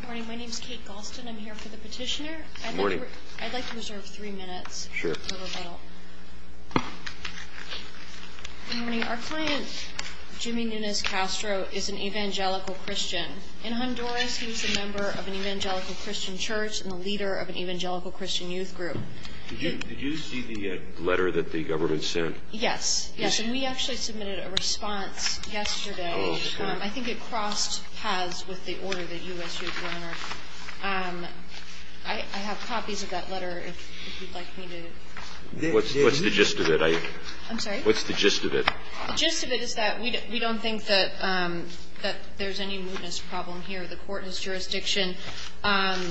Good morning. My name is Kate Galston. I'm here for the petitioner. Good morning. I'd like to reserve three minutes. Sure. Good morning. Our client, Jimmy Nunez-Castro, is an evangelical Christian. In Honduras, he was a member of an evangelical Christian church and a leader of an evangelical Christian youth group. Did you see the letter that the government sent? Yes. Yes, and we actually submitted a response yesterday. I think it crossed paths with the order that you issued, Your Honor. I have copies of that letter, if you'd like me to. What's the gist of it? I'm sorry? What's the gist of it? The gist of it is that we don't think that there's any mootness problem here. The Court has jurisdiction. And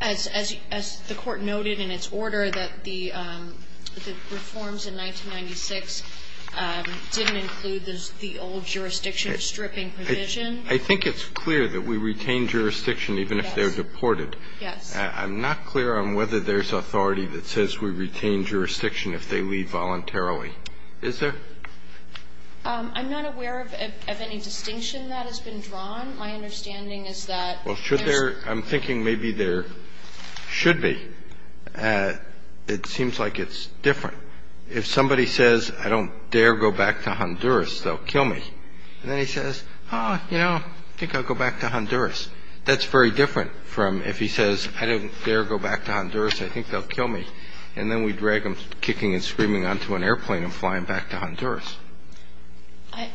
as the Court noted in its order that the reforms in 1996 didn't include the old jurisdiction stripping provision. I think it's clear that we retain jurisdiction even if they're deported. Yes. I'm not clear on whether there's authority that says we retain jurisdiction if they leave voluntarily. Is there? I'm not aware of any distinction that has been drawn. My understanding is that there's – Well, should there – I'm thinking maybe there should be. It seems like it's different. If somebody says, I don't dare go back to Honduras, they'll kill me. And then he says, oh, you know, I think I'll go back to Honduras. That's very different from if he says, I don't dare go back to Honduras. I think they'll kill me. And then we drag him kicking and screaming onto an airplane and fly him back to Honduras.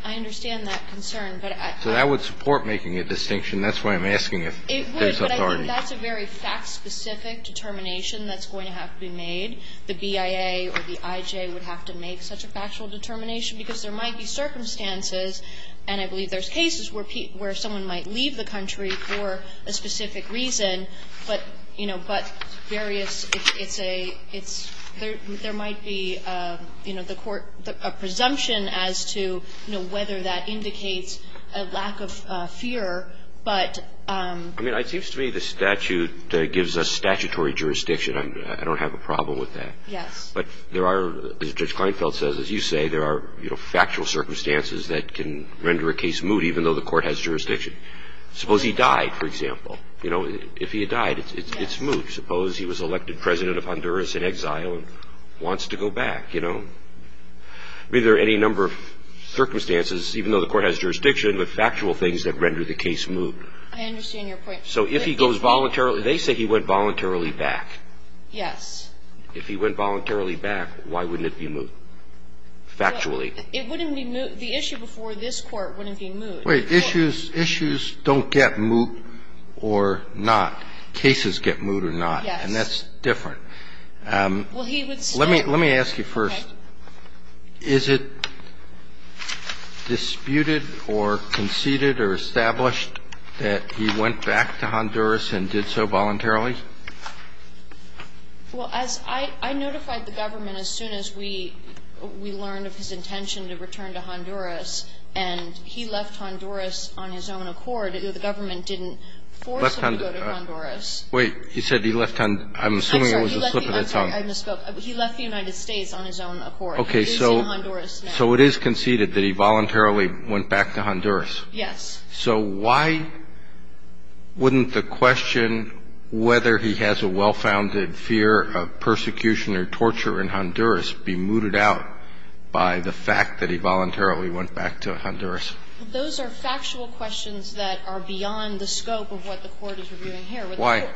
I understand that concern. So that would support making a distinction. That's why I'm asking if there's authority. It would, but I think that's a very fact-specific determination that's going to have to be made. The BIA or the IJ would have to make such a factual determination because there might be circumstances – and I believe there's cases where someone might leave the country for a specific reason, but various – there might be a presumption as to whether that indicates a lack of fear. But – I mean, it seems to me the statute gives us statutory jurisdiction. I don't have a problem with that. Yes. But there are, as Judge Kleinfeld says, as you say, there are factual circumstances that can render a case moot even though the court has jurisdiction. Suppose he died, for example. You know, if he had died, it's moot. Suppose he was elected president of Honduras in exile and wants to go back, you know. Be there any number of circumstances, even though the court has jurisdiction, but factual things that render the case moot. I understand your point. So if he goes voluntarily – they say he went voluntarily back. Yes. If he went voluntarily back, why wouldn't it be moot? Factually. It wouldn't be moot – the issue before this Court wouldn't be moot. Wait. Issues don't get moot or not. Cases get moot or not. Yes. And that's different. Well, he would still – Let me ask you first. Okay. Is it disputed or conceded or established that he went back to Honduras and did so voluntarily? Well, as I notified the government as soon as we learned of his intention to return to Honduras, and he left Honduras on his own accord. The government didn't force him to go to Honduras. Wait. He said he left – I'm assuming it was a slip of the tongue. I'm sorry. I misspoke. He left the United States on his own accord. Okay. So it is conceded that he voluntarily went back to Honduras. Yes. So why wouldn't the question whether he has a well-founded fear of persecution or torture in Honduras be mooted out by the fact that he voluntarily went back to Honduras? Those are factual questions that are beyond the scope of what the Court is reviewing here. Why?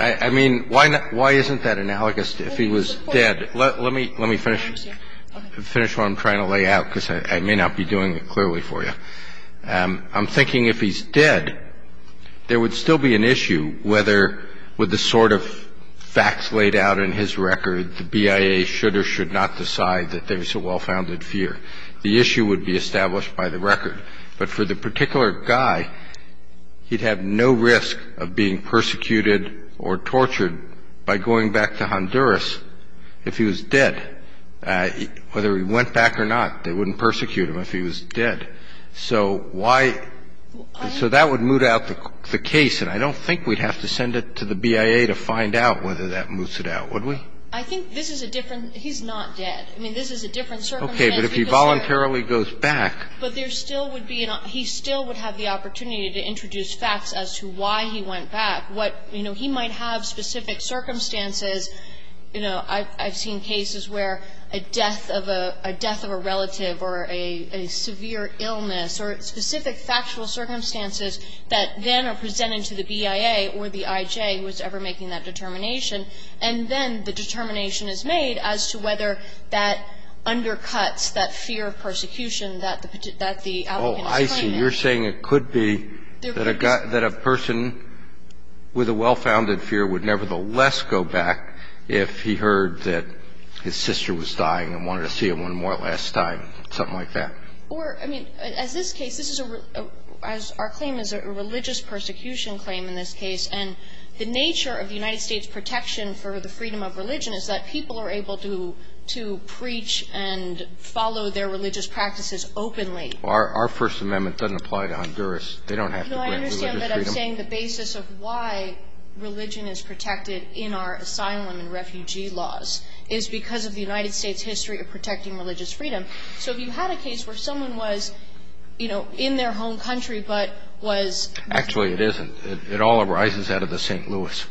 I mean, why isn't that analogous if he was dead? Let me finish what I'm trying to lay out because I may not be doing it clearly for you. I'm thinking if he's dead, there would still be an issue whether with the sort of BIA should or should not decide that there's a well-founded fear. The issue would be established by the record. But for the particular guy, he'd have no risk of being persecuted or tortured by going back to Honduras if he was dead. Whether he went back or not, they wouldn't persecute him if he was dead. So why – so that would moot out the case. And I don't think we'd have to send it to the BIA to find out whether that moots it out. Would we? I think this is a different – he's not dead. I mean, this is a different circumstance. Okay. But if he voluntarily goes back. But there still would be – he still would have the opportunity to introduce facts as to why he went back. What – you know, he might have specific circumstances. You know, I've seen cases where a death of a relative or a severe illness or specific factual circumstances that then are presented to the BIA or the I.J. who was ever making that determination. And then the determination is made as to whether that undercuts that fear of persecution that the applicant is claiming. Oh, I see. You're saying it could be that a person with a well-founded fear would nevertheless go back if he heard that his sister was dying and wanted to see him one more last time, something like that. Or, I mean, as this case – this is a – as our claim is a religious persecution claim in this case, and the nature of the United States' protection for the freedom of religion is that people are able to preach and follow their religious practices openly. Well, our First Amendment doesn't apply to Honduras. They don't have to grant religious freedom. No, I understand that. I'm saying the basis of why religion is protected in our asylum and refugee laws is because of the United States' history of protecting religious freedom. So if you had a case where someone was, you know, in their home country but was – Actually, it isn't. It all arises out of the St. Louis.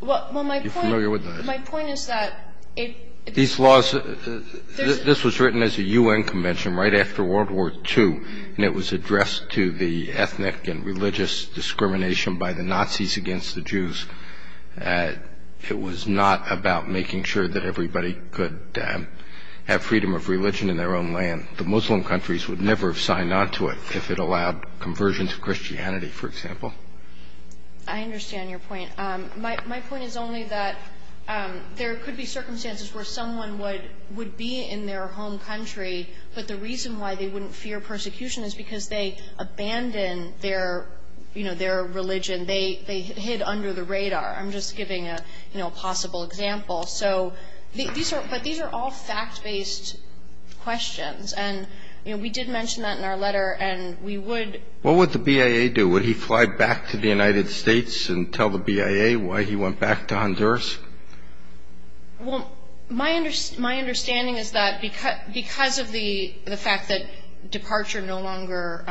Well, my point – Are you familiar with that? My point is that – These laws – this was written as a U.N. convention right after World War II, and it was addressed to the ethnic and religious discrimination by the Nazis against the Jews. It was not about making sure that everybody could have freedom of religion in their own land. The Muslim countries would never have signed on to it if it allowed conversion to Christianity, for example. I understand your point. My point is only that there could be circumstances where someone would be in their home country, but the reason why they wouldn't fear persecution is because they abandoned their, you know, their religion. They hid under the radar. I'm just giving a, you know, possible example. So these are – but these are all fact-based questions, and, you know, we did mention that in our letter, and we would – What would the BIA do? Would he fly back to the United States and tell the BIA why he went back to Honduras? Well, my understanding is that because of the fact that departure no longer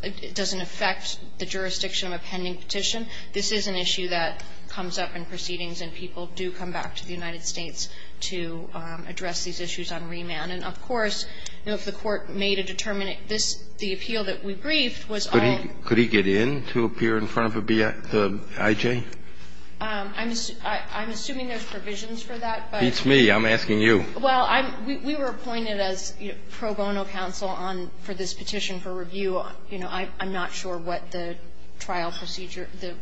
– it doesn't affect the jurisdiction of a pending petition, this is an issue that comes up in proceedings and people do come back to the United States to address these issues on remand. And, of course, you know, if the Court made a determination – this – the appeal that we briefed was all – Could he get in to appear in front of a BIA – the IJ? I'm assuming there's provisions for that, but – It's me. I'm asking you. Well, I'm – we were appointed as pro bono counsel on – for this petition for review. You know, I'm not sure what the trial procedure – the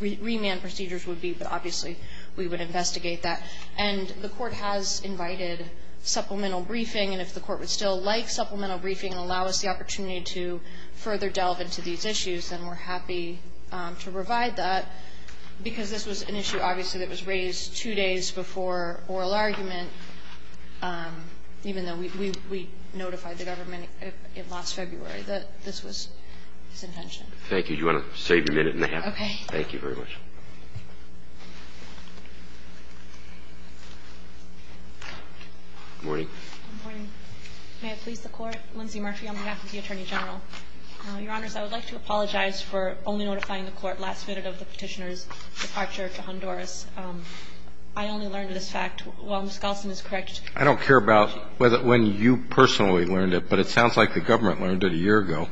remand procedures would be, but obviously, we would investigate that. And the Court has invited supplemental briefing, and if the Court would still like supplemental briefing and allow us the opportunity to further delve into these issues, then we're happy to provide that, because this was an issue, obviously, that was raised two days before oral argument, even though we notified the government last February that this was his intention. Thank you. Do you want to save your minute and a half? Okay. Thank you very much. Good morning. Good morning. May it please the Court. Lindsay Murphy on behalf of the Attorney General. Your Honors, I would like to apologize for only notifying the Court last minute of the Petitioner's departure to Honduras. I only learned of this fact while Ms. Galston is correct. I don't care about when you personally learned it, but it sounds like the government learned it a year ago,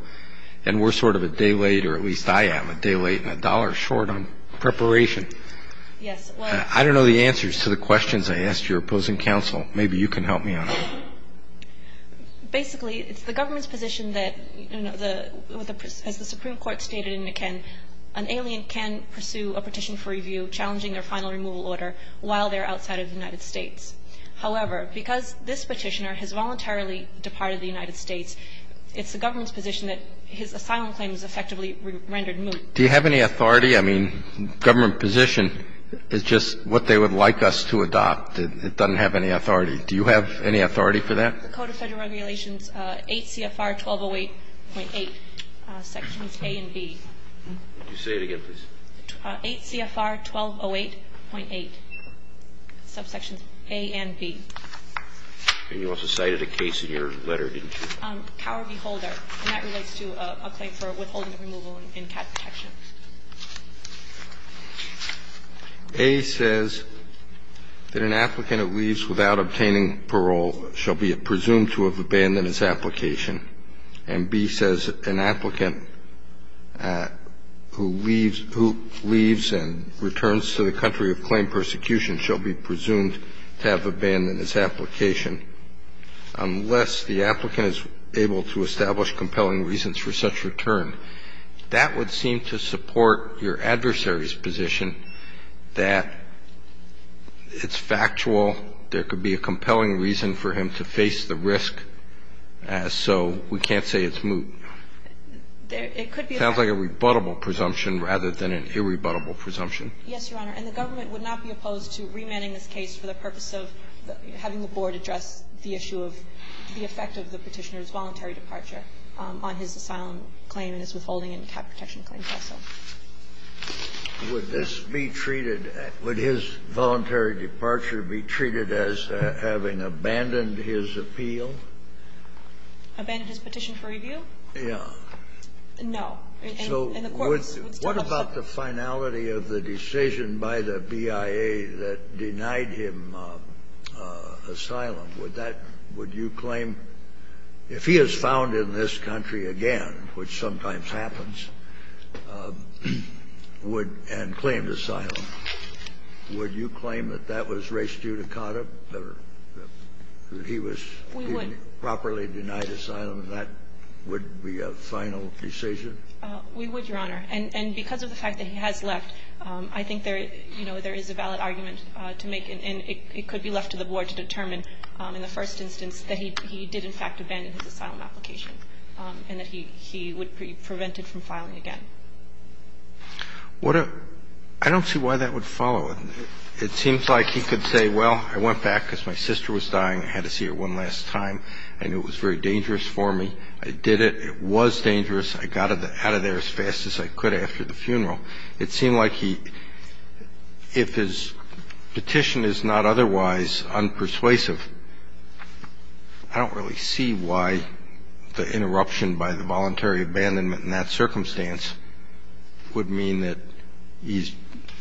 and we're sort of a day late, or at least I am a day late and a dollar short on preparation. Yes. I don't know the answers to the questions I asked your opposing counsel. Maybe you can help me on it. Basically, it's the government's position that, you know, as the Supreme Court stated in Niken, an alien can pursue a petition for review challenging their final removal order while they're outside of the United States. However, because this Petitioner has voluntarily departed the United States, it's the government's position that his asylum claim is effectively rendered moot. Do you have any authority? I mean, government position is just what they would like us to adopt. It doesn't have any authority. Do you have any authority for that? Code of Federal Regulations 8 CFR 1208.8, Sections A and B. Say it again, please. 8 CFR 1208.8, Subsections A and B. And you also cited a case in your letter, didn't you? Cower v. Holder, and that relates to a claim for withholding removal in cat protection. A says that an applicant who leaves without obtaining parole shall be presumed to have abandoned his application, and B says an applicant who leaves and returns to the country of claim persecution shall be presumed to have abandoned his application unless the applicant is able to establish compelling reasons for such return. That would seem to support your adversary's position that it's factual, there could be a compelling reason for him to face the risk, so we can't say it's moot. It sounds like a rebuttable presumption rather than an irrebuttable presumption. Yes, Your Honor. And the government would not be opposed to remanding this case for the purpose of having the Board address the issue of the effect of the Petitioner's voluntary departure on his asylum claim and his withholding in cat protection claims also. Would this be treated, would his voluntary departure be treated as having abandoned his appeal? Abandoned his petition for review? Yeah. No. So what about the finality of the decision by the BIA that denied him asylum? Would that, would you claim, if he is found in this country again, which sometimes happens, would, and claimed asylum, would you claim that that was res judicata, that he was properly denied asylum and that would be a final decision? We would, Your Honor. And because of the fact that he has left, I think there, you know, there is a valid argument to make, and it could be left to the Board to determine in the first instance that he did in fact abandon his asylum application and that he would be prevented from filing again. What a, I don't see why that would follow. It seems like he could say, well, I went back because my sister was dying. I had to see her one last time. I knew it was very dangerous for me. I did it. It was dangerous. I got out of there as fast as I could after the funeral. It seems like he, if his petition is not otherwise unpersuasive, I don't really see why the interruption by the voluntary abandonment in that circumstance would mean that he's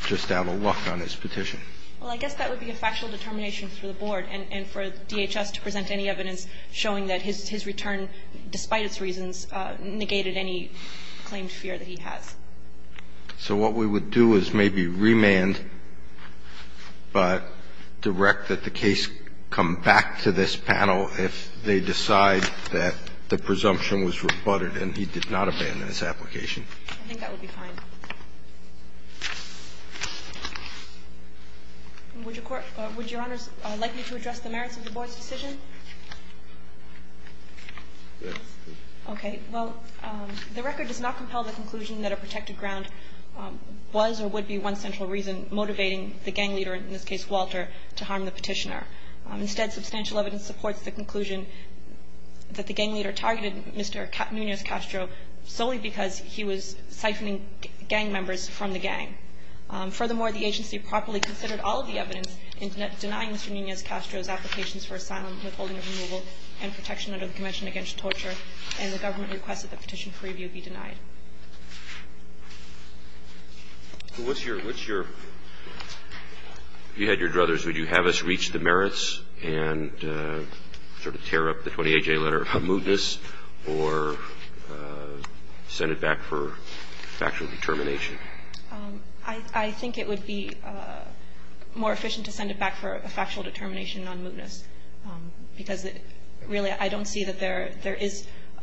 just out of luck on his petition. Well, I guess that would be a factual determination for the Board and for DHS to present any evidence showing that his return, despite its reasons, negated any claimed fear that he has. So what we would do is maybe remand but direct that the case come back to this panel if they decide that the presumption was rebutted and he did not abandon his application. I think that would be fine. Would Your Honor like me to address the merits of the Board's decision? Yes. Okay. Well, the record does not compel the conclusion that a protected ground was or would be one central reason motivating the gang leader, in this case Walter, to harm the petitioner. Instead, substantial evidence supports the conclusion that the gang leader targeted Mr. Nunez-Castro solely because he was siphoning gang members from the gang. Furthermore, the agency properly considered all of the evidence in denying Mr. Nunez-Castro's applications for asylum, withholding of removal, and protection under the Convention Against Torture, and the government requested that Petition Preview be denied. Well, what's your – if you had your druthers, would you have us reach the merits and sort of tear up the 28J letter of mootness or send it back for factual determination? I think it would be more efficient to send it back for a factual determination on mootness, because it really – I don't see that there is –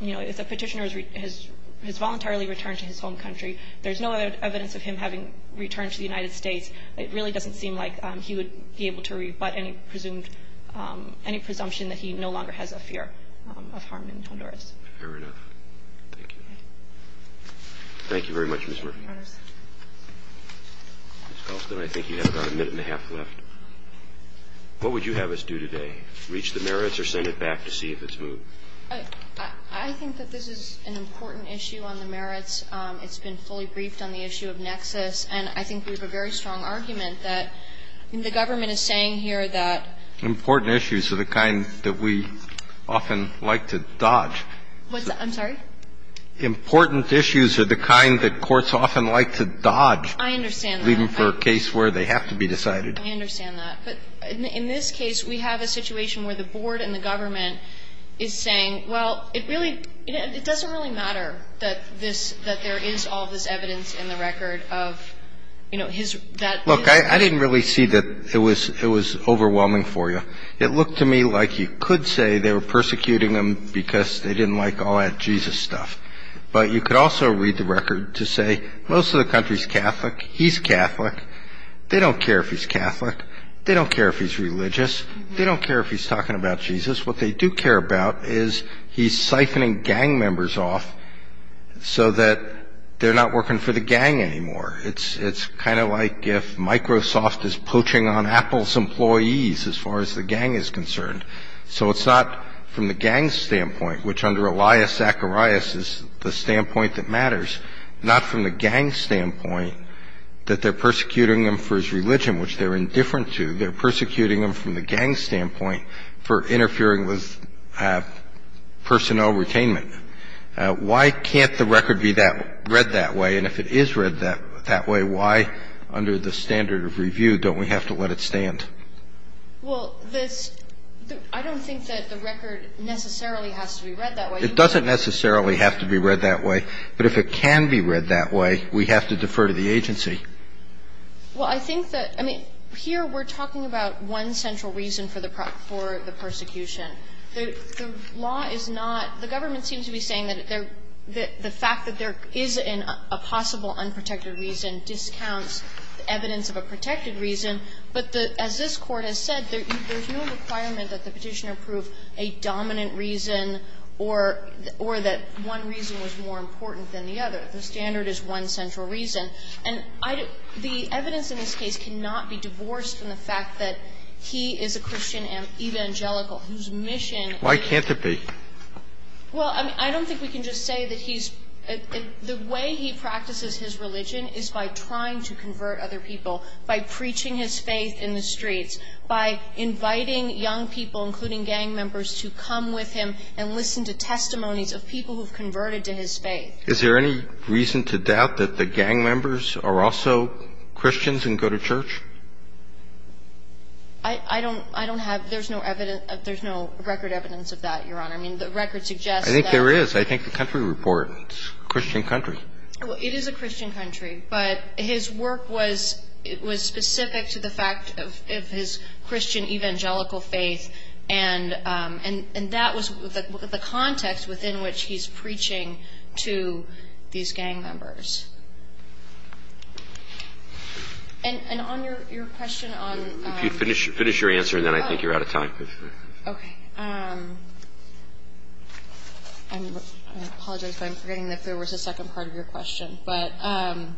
you know, if a petitioner has voluntarily returned to his home country, there's no evidence of him having returned to the United States. It really doesn't seem like he would be able to rebut any presumed – any presumption that he no longer has a fear of harm in Honduras. Fair enough. Thank you. Thank you very much, Ms. Murphy. Ms. Galston, I think you have about a minute and a half left. What would you have us do today? Reach the merits or send it back to see if it's moot? I think that this is an important issue on the merits. It's been fully briefed on the issue of nexus, and I think we have a very strong argument that the government is saying here that – Important issues are the kind that we often like to dodge. I'm sorry? Important issues are the kind that courts often like to dodge. I understand that. Even for a case where they have to be decided. I understand that. But in this case, we have a situation where the board and the government is saying, well, it really – it doesn't really matter that this – that there is all of this evidence in the record of, you know, his – that – Look, I didn't really see that it was – it was overwhelming for you. It looked to me like you could say they were persecuting him because they didn't like all that Jesus stuff. But you could also read the record to say most of the country is Catholic. He's Catholic. They don't care if he's Catholic. They don't care if he's religious. They don't care if he's talking about Jesus. What they do care about is he's siphoning gang members off so that they're not working for the gang anymore. It's kind of like if Microsoft is poaching on Apple's employees as far as the gang is concerned. So it's not from the gang's standpoint, which under Elias Zacharias is the standpoint that matters, not from the gang's standpoint, that they're persecuting him for his religion, which they're indifferent to. They're persecuting him from the gang's standpoint for interfering with personnel retainment. Why can't the record be that – read that way? And if it is read that way, why, under the standard of review, don't we have to let it stand? Well, this – I don't think that the record necessarily has to be read that way. It doesn't necessarily have to be read that way. But if it can be read that way, we have to defer to the agency. Well, I think that – I mean, here we're talking about one central reason for the prosecution. The law is not – the government seems to be saying that the fact that there is a possible unprotected reason discounts evidence of a protected reason. But the – as this Court has said, there's no requirement that the Petitioner prove a dominant reason or that one reason was more important than the other. The standard is one central reason. And I – the evidence in this case cannot be divorced from the fact that he is a Christian evangelical whose mission is to – Why can't it be? Well, I mean, I don't think we can just say that he's – the way he practices his religion is by trying to convert other people, by preaching his faith in the streets, by inviting young people, including gang members, to come with him and listen to testimonies of people who have converted to his faith. Is there any reason to doubt that the gang members are also Christians and go to church? I – I don't – I don't have – there's no evidence – there's no record evidence of that, Your Honor. I mean, the record suggests that – I think there is. I think the country report. It's a Christian country. Well, it is a Christian country. But his work was – it was specific to the fact of his Christian evangelical faith, and that was the context within which he's preaching to these gang members. And on your question on – If you finish your answer, then I think you're out of time. Okay. I'm – I apologize, but I'm forgetting that there was a second part of your question. But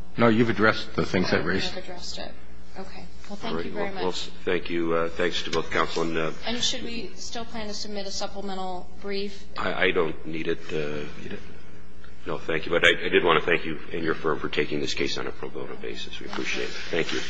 – No, you've addressed the things I raised. I have addressed it. Okay. Well, thank you very much. Thank you. Thanks to both counsel and – And should we still plan to submit a supplemental brief? I don't need it. No, thank you. But I did want to thank you and your firm for taking this case on a pro bono basis. We appreciate it. Thank you.